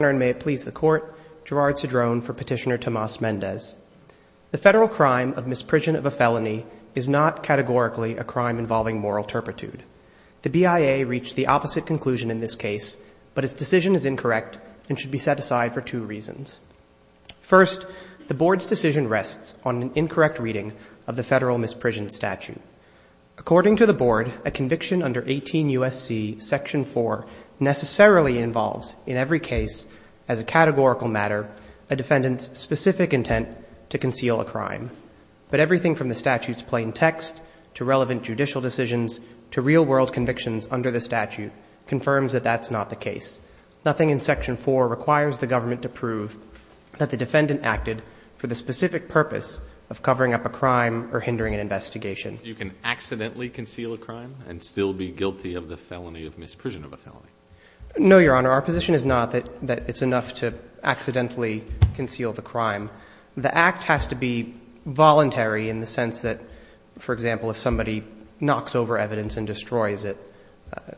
and may it please the court, Gerard Cedrone for Petitioner Tomas Mendez. The federal crime of misprision of a felony is not categorically a crime involving moral turpitude. The BIA reached the opposite conclusion in this case, but its decision is incorrect and should be set aside for two reasons. First, the Board's decision rests on an incorrect reading of the federal misprision statute. According to the Board, a conviction under 18 U.S.C. Section 4 necessarily involves, in every case, as a categorical matter, a defendant's specific intent to conceal a crime. But everything from the statute's plain text to relevant judicial decisions to real world convictions under the statute confirms that that's not the case. Nothing in Section 4 requires the government to prove that the defendant acted for the specific purpose of covering up a crime or hindering an investigation. So you can accidentally conceal a crime and still be guilty of the felony of misprision of a felony? No, Your Honor. Our position is not that it's enough to accidentally conceal the crime. The act has to be voluntary in the sense that, for example, if somebody knocks over evidence and destroys it,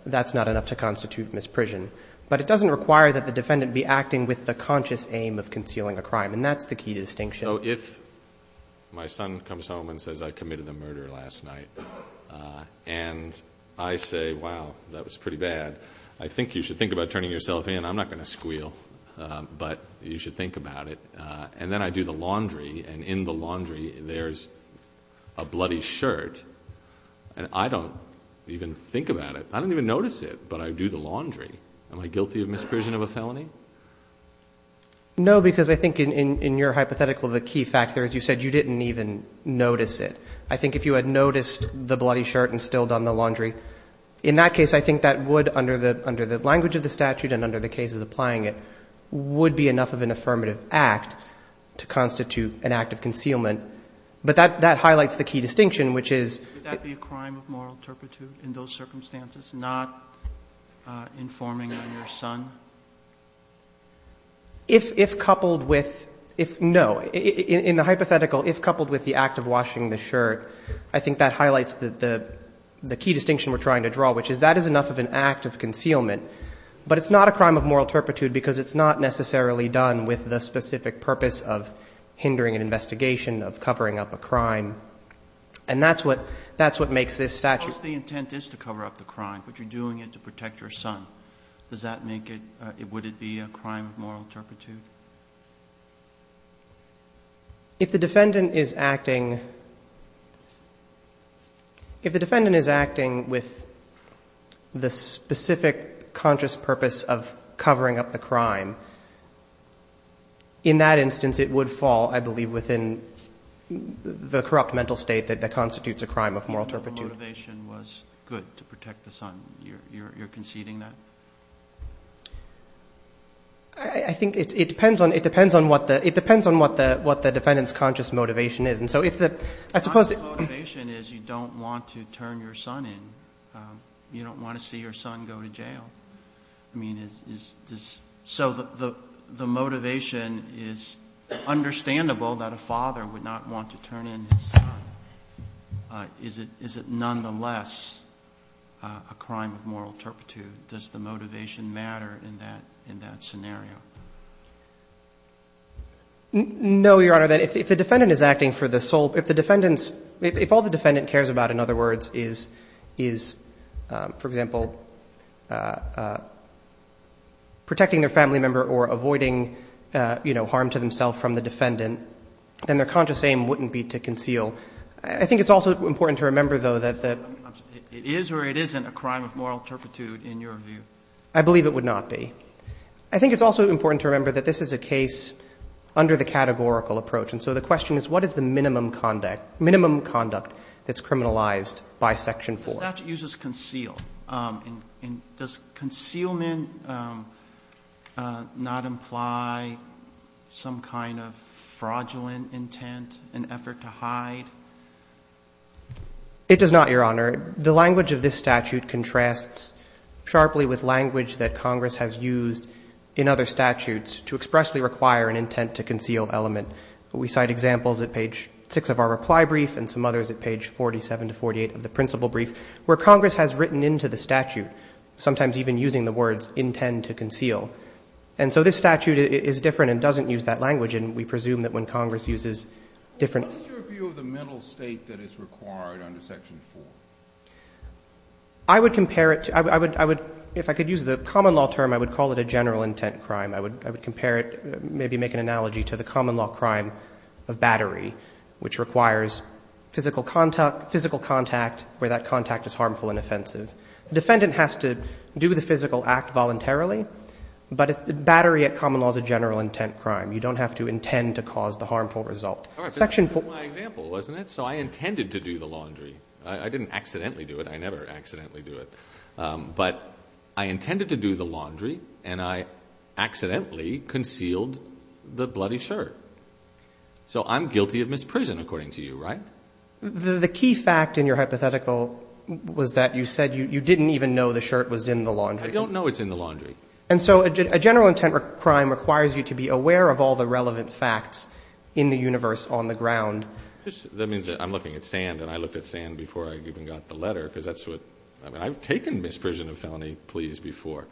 that's not enough to constitute misprision. But it doesn't require that the defendant be acting with the conscious aim of concealing a crime, and that's the key distinction. So if my son comes home and says, I committed a murder last night, and I say, wow, that was pretty bad, I think you should think about turning yourself in. I'm not going to squeal, but you should think about it. And then I do the laundry, and in the laundry there's a bloody shirt, and I don't even think about it. I don't even notice it, but I do the laundry. Am I guilty of misprision of a felony? No, because I think in your hypothetical, the key factor is you said you didn't even notice it. I think if you had noticed the bloody shirt and still done the laundry, in that case, I think that would, under the language of the statute and under the cases applying it, would be enough of an affirmative act to constitute an act of concealment. But that highlights the key distinction, which is – If coupled with – no. In the hypothetical, if coupled with the act of washing the shirt, I think that highlights the key distinction we're trying to draw, which is that is enough of an act of concealment, but it's not a crime of moral turpitude because it's not necessarily done with the specific purpose of hindering an investigation, of covering up a crime. And that's what – that's what makes this statute – If the intent is to cover up the crime, but you're doing it to protect your son, does that make it – would it be a crime of moral turpitude? If the defendant is acting – if the defendant is acting with the specific conscious purpose of covering up the crime, in that instance, it would fall, I believe, within the corrupt mental state that constitutes a crime of moral turpitude. If the motivation was good to protect the son, you're conceding that? I think it depends on – it depends on what the – it depends on what the defendant's conscious motivation is. And so if the – I suppose – Conscious motivation is you don't want to turn your son in. You don't want to see your son go to jail. I mean, is this – so the motivation is understandable that a father would not want to turn in his son. Is it nonetheless a crime of moral turpitude? Does the motivation matter in that – in that scenario? No, Your Honor. If the defendant is acting for the sole – if the defendant's – if all the defendant cares about, in other words, is, for example, protecting their family member or avoiding harm to themselves from the defendant, then their conscious aim wouldn't be to conceal. I think it's also important to remember, though, that the – It is or it isn't a crime of moral turpitude in your view? I believe it would not be. I think it's also important to remember that this is a case under the categorical approach. And so the question is, what is the minimum conduct – minimum conduct that's criminalized by Section 4? The statute uses conceal. And does concealment not imply some kind of fraudulent intent, an effort to hide? It does not, Your Honor. The language of this statute contrasts sharply with language that Congress has used in other statutes to expressly require an intent to conceal element. We cite examples at page 6 of our reply brief and some others at page 47 to 48 of the principle brief, where Congress has written into the statute, sometimes even using the words, intend to conceal. And so this statute is different and doesn't use that language. And we presume that when Congress uses different – What is your view of the mental state that is required under Section 4? I would compare it to – I would – I would – if I could use the common law term, I would call it a general intent crime. I would – I would compare it – maybe make an analogy to the common law crime of battery, which requires physical contact – physical contact where that contact is harmful and offensive. The defendant has to do the physical act voluntarily, but it's – battery at common law is a general intent crime. You don't have to intend to cause the harmful result. All right. But that was my example, wasn't it? So I intended to do the laundry. I didn't accidentally do it. I never accidentally do it. But I intended to do the laundry, and I accidentally concealed the bloody shirt. So I'm guilty of misprision, according to you, right? The key fact in your hypothetical was that you said you didn't even know the shirt was in the laundry. I don't know it's in the laundry. And so a general intent crime requires you to be aware of all the relevant facts in the universe on the ground. That means that I'm looking at sand, and I looked at sand before I even got the letter because that's what – I mean, I've taken misprision of felony pleas before.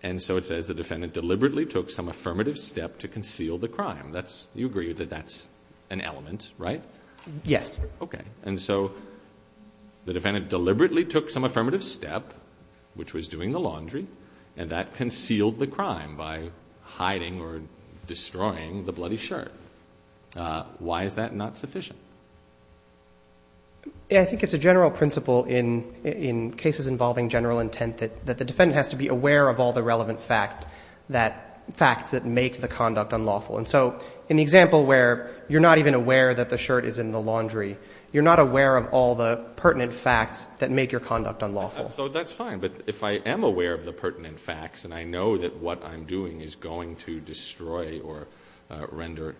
And so it says the defendant deliberately took some affirmative step to conceal the crime. That's – you agree that that's an element, right? Yes. Okay. And so the defendant deliberately took some affirmative step, which was doing the laundry, and that concealed the crime by hiding or destroying the bloody shirt. Why is that not sufficient? I think it's a general principle in cases involving general intent that the defendant has to be aware of all the relevant fact that – facts that make the conduct unlawful. And so in the example where you're not even aware that the shirt is in the laundry, you're not aware of all the pertinent facts that make your conduct unlawful. So that's fine. But if I am aware of the pertinent facts, and I know that what I'm doing is going to destroy or render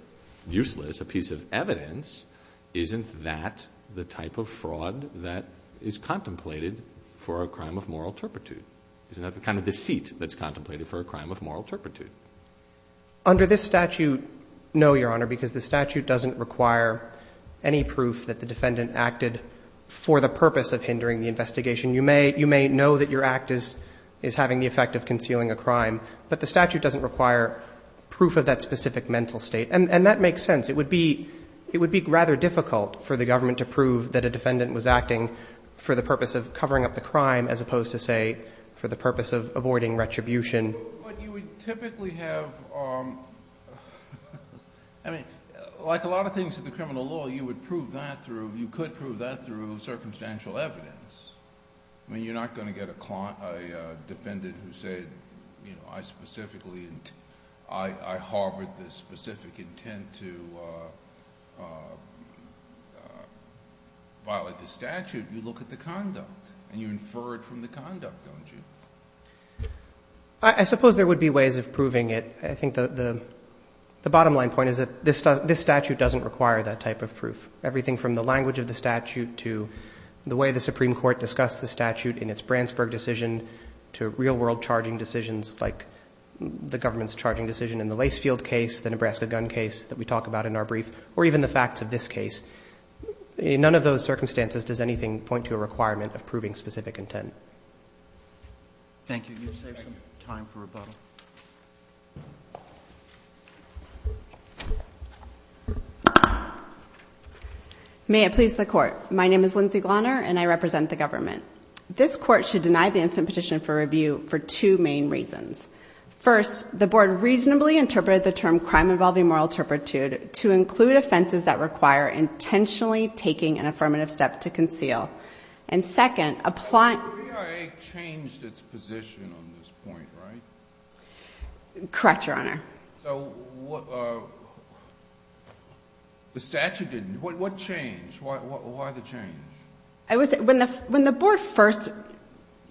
useless a piece of evidence, isn't that the type of fraud that is contemplated for a crime of moral turpitude? Isn't that the kind of deceit that's contemplated for a crime of moral turpitude? Under this statute, no, Your Honor, because the statute doesn't require any proof that the defendant acted for the purpose of hindering the investigation. You may – you may know that your act is – is having the effect of concealing a crime, but the statute doesn't require proof of that specific mental state. And that makes sense. It would be – it would be rather difficult for the government to prove that a defendant was acting for the purpose of covering up the crime as opposed to, say, for the purpose of avoiding retribution. But you would typically have – I mean, like a lot of things in the criminal law, you would prove that through – you could prove that through circumstantial evidence. I mean, you're not going to get a defendant who said, you know, I specifically – I harbored this specific intent to violate the statute. You look at the conduct, and you infer it from the conduct, don't you? I suppose there would be ways of proving it. I think the bottom-line point is that this statute doesn't require that type of proof. Everything from the language of the statute to the way the Supreme Court discussed the statute in its Bransburg decision to real-world charging decisions like the government's charging decision in the Lacefield case, the Nebraska gun case that we talk about in our brief, or even the facts of this case, in none of those circumstances does anything point to a requirement of proving specific intent. Thank you. You've saved some time for rebuttal. May it please the Court. My name is Lindsay Glauner, and I represent the government. This Court should deny the incident petition for review for two main reasons. First, the Board reasonably interpreted the term crime involving moral turpitude to include offenses that require intentionally taking an affirmative step to conceal. And second, applying – So the statute changed its position on this point, right? Correct, Your Honor. So what – the statute didn't. What changed? Why the change? When the Board first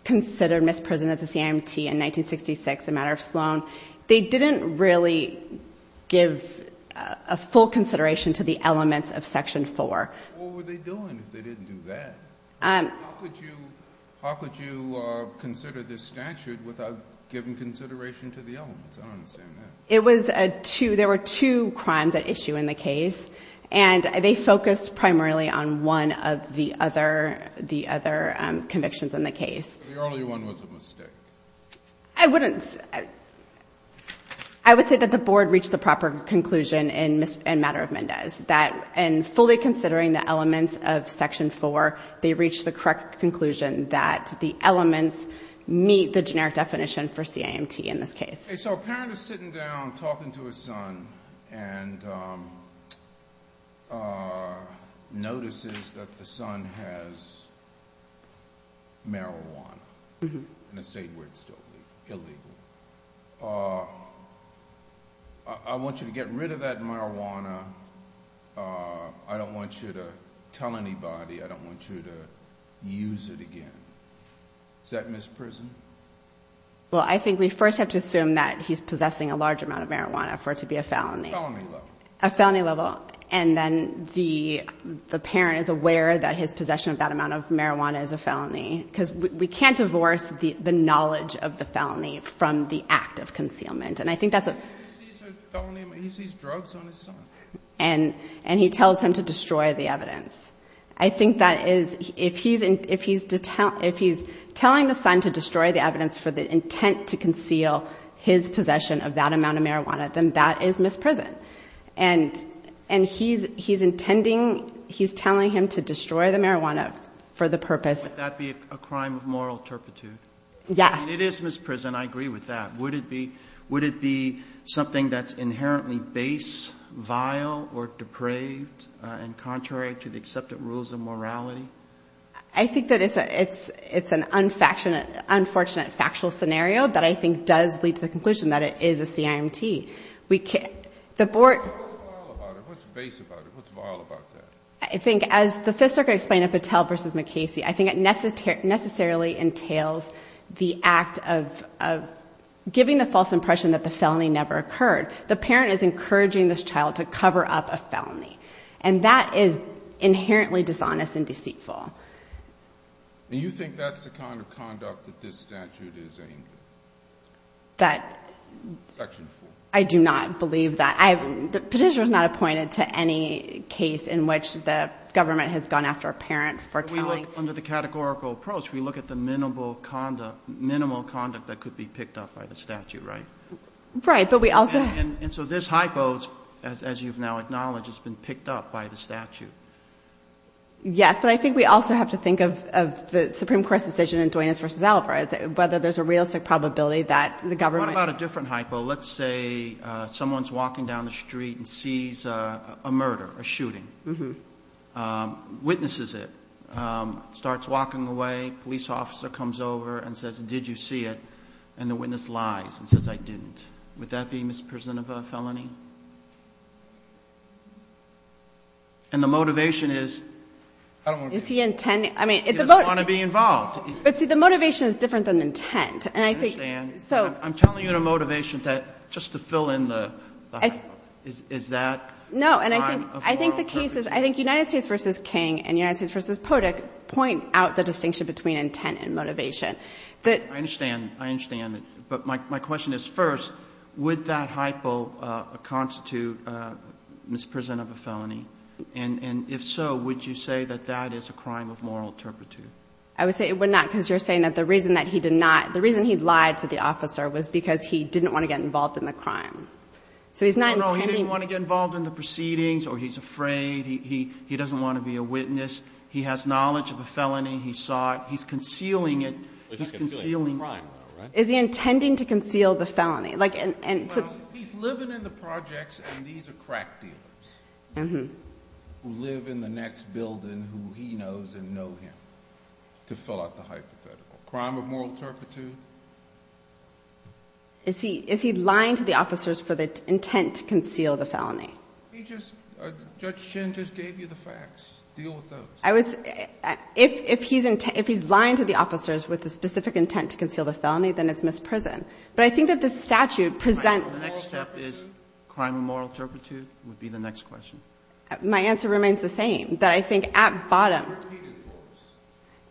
considered Ms. Preston as a CIMT in 1966, a matter of Sloan, they didn't really give a full consideration to the elements of Section 4. What were they doing if they didn't do that? How could you consider this statute without giving consideration to the elements? I don't understand that. It was a two – there were two crimes at issue in the case, and they focused primarily on one of the other convictions in the case. The earlier one was a mistake. I wouldn't – I would say that the Board reached the proper conclusion in Matter of Considering the Elements of Section 4, they reached the correct conclusion that the elements meet the generic definition for CIMT in this case. Okay, so a parent is sitting down talking to his son and notices that the son has marijuana in a state where it's still illegal. I want you to get rid of that marijuana. I don't want you to tell anybody. I don't want you to use it again. Is that Ms. Preston? Well, I think we first have to assume that he's possessing a large amount of marijuana for it to be a felony. Felony level. A felony level. And then the parent is aware that his possession of that amount of marijuana is a felony, because we can't divorce the knowledge of the felony from the act of concealment. And I think that's a – He sees a felony – he sees drugs on his son. And he tells him to destroy the evidence. I think that is – if he's telling the son to destroy the evidence for the intent to conceal his possession of that amount of marijuana, then that is misprison. And he's intending – he's telling him to destroy the marijuana for the purpose – Would that be a crime of moral turpitude? Yes. I mean, it is misprison. I agree with that. Would it be something that's inherently base, vile, or depraved and contrary to the accepted rules of morality? I think that it's an unfortunate factual scenario that I think does lead to the conclusion that it is a CIMT. The board – What's vile about it? What's base about it? What's vile about that? I think, as the Fifth Circuit explained in Patel v. McCasey, I think it necessarily entails the act of giving the false impression that the felony never occurred. The parent is encouraging this child to cover up a felony. And that is inherently dishonest and deceitful. You think that's the kind of conduct that this statute is aimed at? That – Section 4. I do not believe that. The petitioner is not appointed to any case in which the government has gone after a parent for telling – But we look – under the categorical approach, we look at the minimal conduct – minimal conduct that could be picked up by the statute, right? Right. But we also – And so this hypo, as you've now acknowledged, has been picked up by the statute. Yes. But I think we also have to think of the Supreme Court's decision in Duenas v. Alvarez, whether there's a realistic probability that the government – Let's say someone's walking down the street and sees a murder, a shooting. Witnesses it. Starts walking away. Police officer comes over and says, did you see it? And the witness lies and says, I didn't. Would that be misprision of a felony? And the motivation is – I don't want to be – Is he intending – I mean, if the – He doesn't want to be involved. But, see, the motivation is different than intent. And I think – I'm telling you the motivation, just to fill in the hypo. Is that a crime of moral turpitude? No. And I think the case is – I think United States v. King and United States v. Podick point out the distinction between intent and motivation. I understand. I understand. But my question is, first, would that hypo constitute misprision of a felony? And if so, would you say that that is a crime of moral turpitude? I would say it would not, because you're saying that the reason that he did not – the reason he lied to the officer was because he didn't want to get involved in the crime. So he's not intending – No, no. He didn't want to get involved in the proceedings, or he's afraid. He doesn't want to be a witness. He has knowledge of a felony. He saw it. He's concealing it. He's concealing – But he's concealing a crime, though, right? Is he intending to conceal the felony? Like – Well, he's living in the projects, and these are crack dealers who live in the next building who he knows and know him, to fill out the hypothetical. Crime of moral turpitude? Is he – is he lying to the officers for the intent to conceal the felony? He just – Judge Chin just gave you the facts. Deal with those. I would – if he's – if he's lying to the officers with a specific intent to conceal the felony, then it's misprision. But I think that the statute presents – The next step is crime of moral turpitude would be the next question. My answer remains the same, that I think at bottom – Turpitude rules.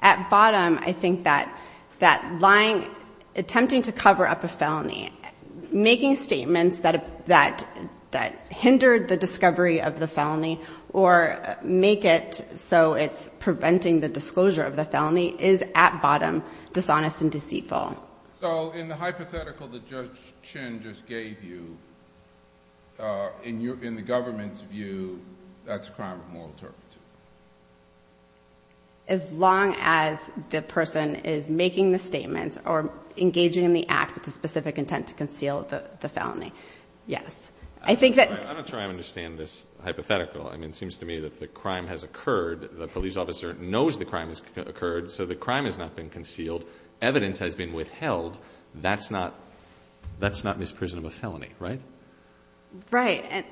At bottom, I think that – that lying – attempting to cover up a felony, making statements that hindered the discovery of the felony or make it so it's preventing the disclosure of the felony is, at bottom, dishonest and deceitful. So in the hypothetical that Judge Chin just gave you, in the government's view, that's crime of moral turpitude? As long as the person is making the statements or engaging in the act with the specific intent to conceal the felony, yes. I think that – I'm not sure I understand this hypothetical. I mean, it seems to me that the crime has occurred. The police officer knows the crime has occurred, so the crime has not been concealed. Evidence has been withheld. That's not – that's not misprison of a felony, right? Right.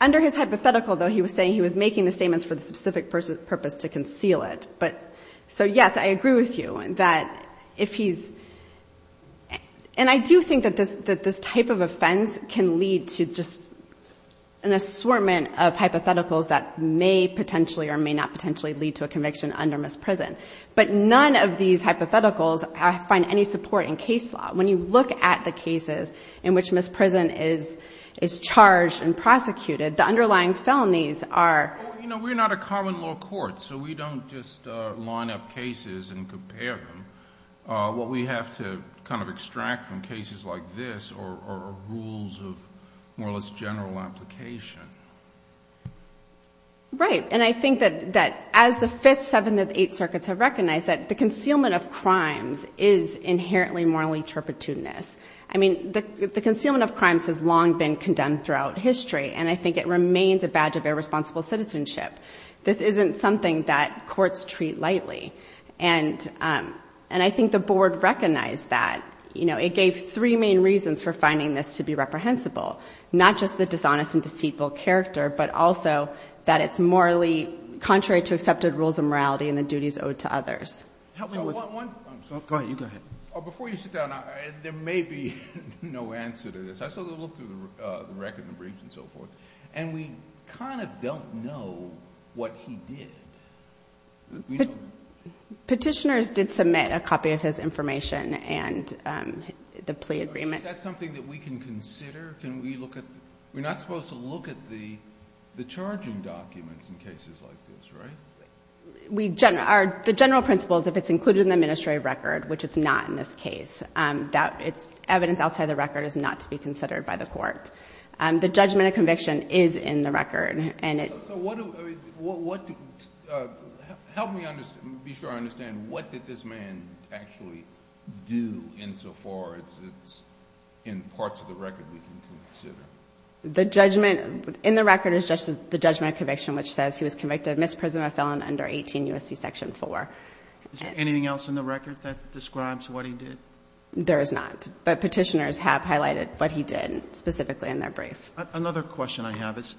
Under his hypothetical, though, he was saying he was making the statements for the specific purpose to conceal it. But – so yes, I agree with you that if he's – and I do think that this type of offense can lead to just an assortment of hypotheticals that may potentially or may not potentially lead to a conviction under misprison. But none of these hypotheticals find any support in case law. When you look at the cases in which misprison is charged and prosecuted, the underlying felonies are – Well, you know, we're not a common law court, so we don't just line up cases and compare them. What we have to kind of extract from cases like this are rules of more or less general application. Right. And I think that as the Fifth, Seventh, and Eighth Circuits have recognized that the concealment of crimes is inherently morally turpitudinous – I mean, the concealment of crimes has long been condemned throughout history, and I think it remains a badge of irresponsible citizenship. This isn't something that courts treat lightly. And I think the board recognized that. You know, it gave three main reasons for finding this to be reprehensible – not just the dishonest and deceitful character, but also that it's morally contrary to accepted rules of morality and the duties owed to others. Help me with – One – Go ahead. You go ahead. Before you sit down, there may be no answer to this. I saw the look through the record and the briefs and so forth, and we kind of don't know what he did. Petitioners did submit a copy of his information and the plea agreement. Is that something that we can consider? Can we look at – we're not supposed to look at the charging documents in cases like this, right? We – the general principle is if it's included in the administrative record, which it's not in this case, that it's – evidence outside the record is not to be considered by the court. The judgment of conviction is in the record, and it – So what do – help me be sure I understand. What did this man actually do insofar as it's in parts of the record we can consider? The judgment in the record is just the judgment of conviction, which says he was convicted of misprisma felon under 18 U.S.C. Section 4. Is there anything else in the record that describes what he did? There is not, but Petitioners have highlighted what he did specifically in their brief. Another question I have is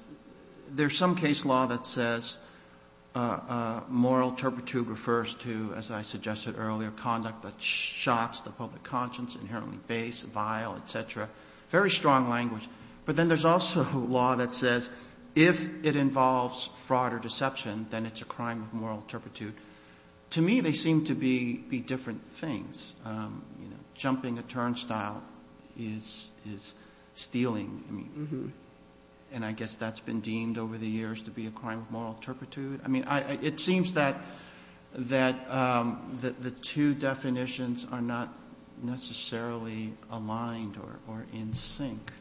there's some case law that says moral turpitude refers to, as I suggested earlier, conduct that shocks the public conscience, inherently base, vile, et cetera, very strong language. But then there's also law that says if it involves fraud or deception, then it's a crime of moral turpitude. To me, they seem to be different things. Jumping a turnstile is stealing, and I guess that's been deemed over the years to be a crime of moral turpitude. I mean, it seems that the two definitions are not necessarily aligned or in sync.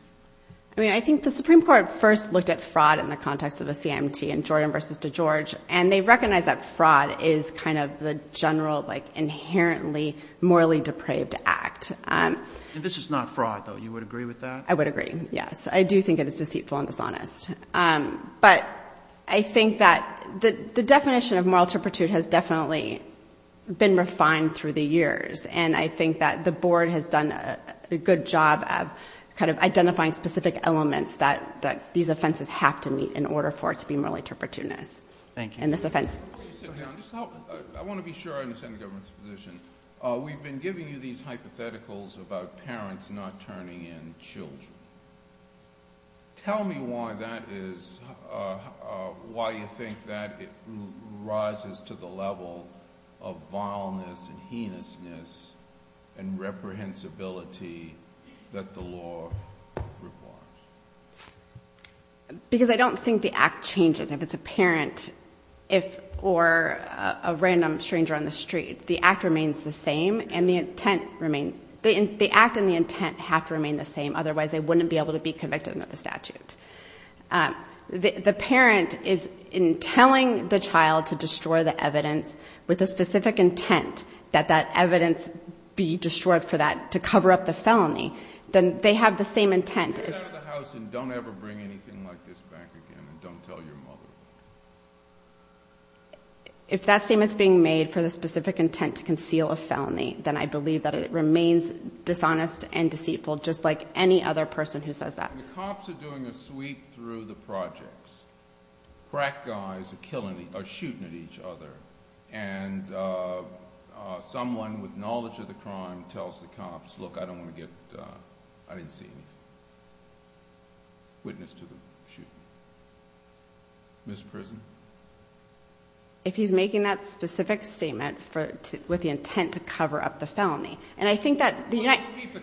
I mean, I think the Supreme Court first looked at fraud in the context of a CMT, in Jordan v. DeGeorge, and they recognized that fraud is kind of the general, inherently morally depraved act. This is not fraud, though. You would agree with that? I would agree, yes. I do think it is deceitful and dishonest. But I think that the definition of moral turpitude has definitely been refined through the years, and I think that the Board has done a good job of kind of identifying specific elements that these offenses have to meet in order for it to be morally turpitudinous. Thank you. In this offense. I want to be sure I understand the government's position. We've been giving you these hypotheticals about parents not turning in children. Tell me why you think that rises to the level of vileness and heinousness and reprehensibility that the law requires. Because I don't think the act changes. If it's a parent or a random stranger on the street, the act remains the same, and the intent remains. The act and the intent have to remain the same, otherwise they wouldn't be able to be convicted under the statute. The parent is telling the child to destroy the evidence with the specific intent that that evidence be destroyed for that, to cover up the felony. Then they have the same intent. Get out of the house and don't ever bring anything like this back again, and don't tell your mother. If that statement's being made for the specific intent to conceal a felony, then I believe that it remains dishonest and deceitful, just like any other person who says that. The cops are doing a sweep through the projects. Crack guys are shooting at each other, and someone with knowledge of the crime tells the cops, look, I didn't see anything. Witness to the shooting. Ms. Prism. If he's making that specific statement with the intent to cover up the felony, and I think that the United States.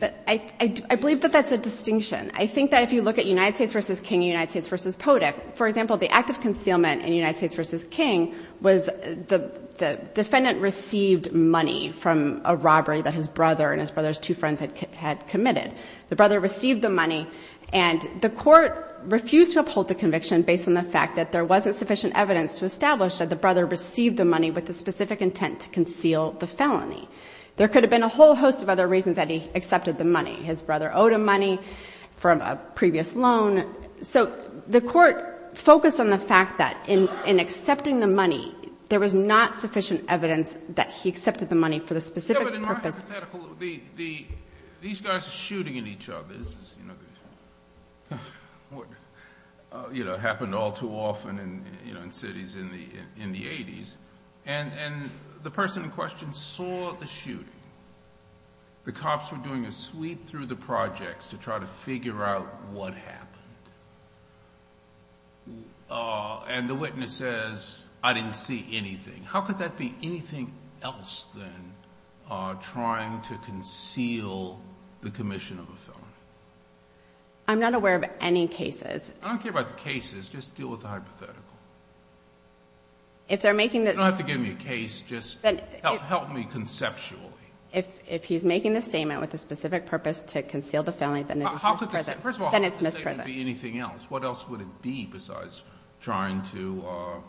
I believe that that's a distinction. I think that if you look at United States v. King and United States v. Podick, for example, the act of concealment in United States v. King was the defendant received money from a robbery that his brother and his brother's two friends had committed. The brother received the money, and the court refused to uphold the conviction based on the fact that there wasn't sufficient evidence to establish that the brother received the money with the specific intent to conceal the felony. There could have been a whole host of other reasons that he accepted the money. His brother owed him money from a previous loan. So the court focused on the fact that in accepting the money, there was not sufficient evidence that he accepted the money for the specific purpose. These guys are shooting at each other. It happened all too often in cities in the 80s, and the person in question saw the shooting. The cops were doing a sweep through the projects to try to figure out what happened, and the witness says, I didn't see anything. How could that be anything else than trying to conceal the commission of a felony? I'm not aware of any cases. I don't care about the cases. Just deal with the hypothetical. If they're making the — You don't have to give me a case. Just help me conceptually. If he's making the statement with the specific purpose to conceal the felony, then it's mispresent. First of all, how could the statement be anything else? What else would it be besides trying to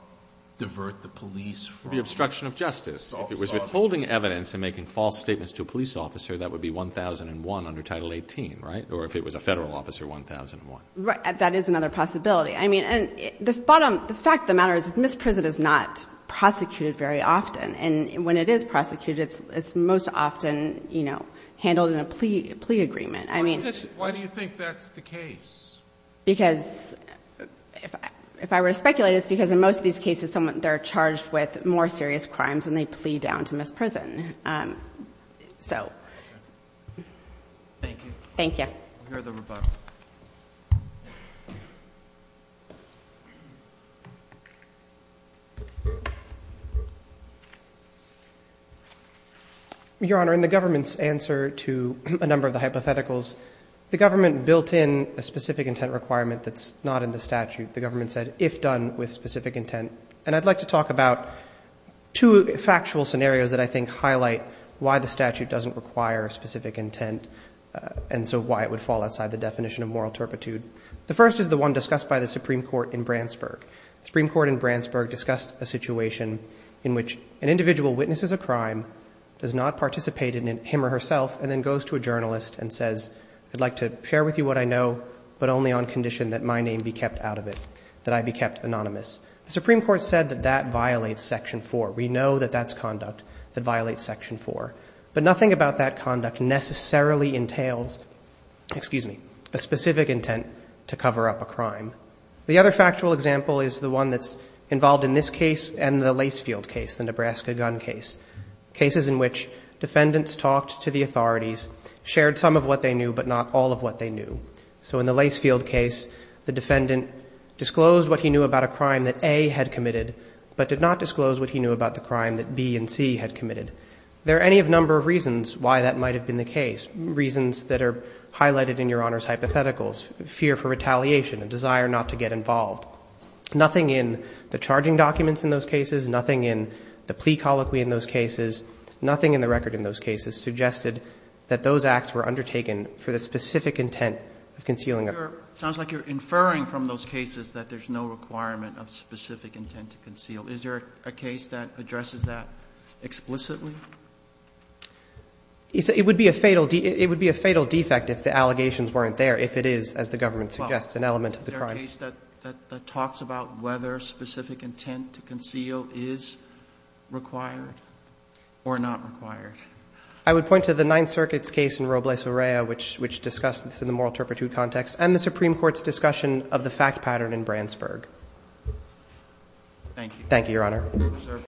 divert the police from — The obstruction of justice. If it was withholding evidence and making false statements to a police officer, that would be 1001 under Title 18, right? Or if it was a federal officer, 1001. Right. That is another possibility. I mean, the fact of the matter is misprisonment is not prosecuted very often, and when it is prosecuted, it's most often handled in a plea agreement. Why do you think that's the case? Because if I were to speculate, it's because in most of these cases, they're charged with more serious crimes, and they plea down to misprison. So. Thank you. Thank you. We'll hear the rebuttal. Your Honor, in the government's answer to a number of the hypotheticals, the government built in a specific intent requirement that's not in the statute. The government said, if done with specific intent. And I'd like to talk about two factual scenarios that I think highlight why the statute doesn't require specific intent and so why it would fall outside the definition of moral turpitude. The first is the one discussed by the Supreme Court in Brandsburg. The Supreme Court in Brandsburg discussed a situation in which an individual witnesses a crime, does not participate in it him or herself, and then goes to a journalist and says, I'd like to share with you what I know, but only on condition that my name be kept out of it, that I be kept anonymous. The Supreme Court said that that violates Section 4. We know that that's conduct that violates Section 4. But nothing about that conduct necessarily entails, excuse me, a specific intent to cover up a crime. The other factual example is the one that's involved in this case and the Lacefield case, the Nebraska gun case, cases in which defendants talked to the authorities, shared some of what they knew, but not all of what they knew. So in the Lacefield case, the defendant disclosed what he knew about a crime that A had committed, but did not disclose what he knew about the crime that B and C had committed. There are any number of reasons why that might have been the case, reasons that are highlighted in Your Honor's hypotheticals, fear for retaliation, a desire not to get involved. Nothing in the charging documents in those cases, nothing in the plea colloquy in those cases, nothing in the record in those cases suggested that those acts were undertaken for the specific intent of concealing a crime. Roberts. It sounds like you're inferring from those cases that there's no requirement of specific intent to conceal. Is there a case that addresses that explicitly? It would be a fatal defect if the allegations weren't there, if it is, as the government suggests, an element of the crime. Is there a case that talks about whether specific intent to conceal is required or not required? I would point to the Ninth Circuit's case in Robles-Varela, which discussed this in the moral turpitude context, and the Supreme Court's discussion of the fact pattern in Brandsburg. Thank you. Thank you, Your Honor.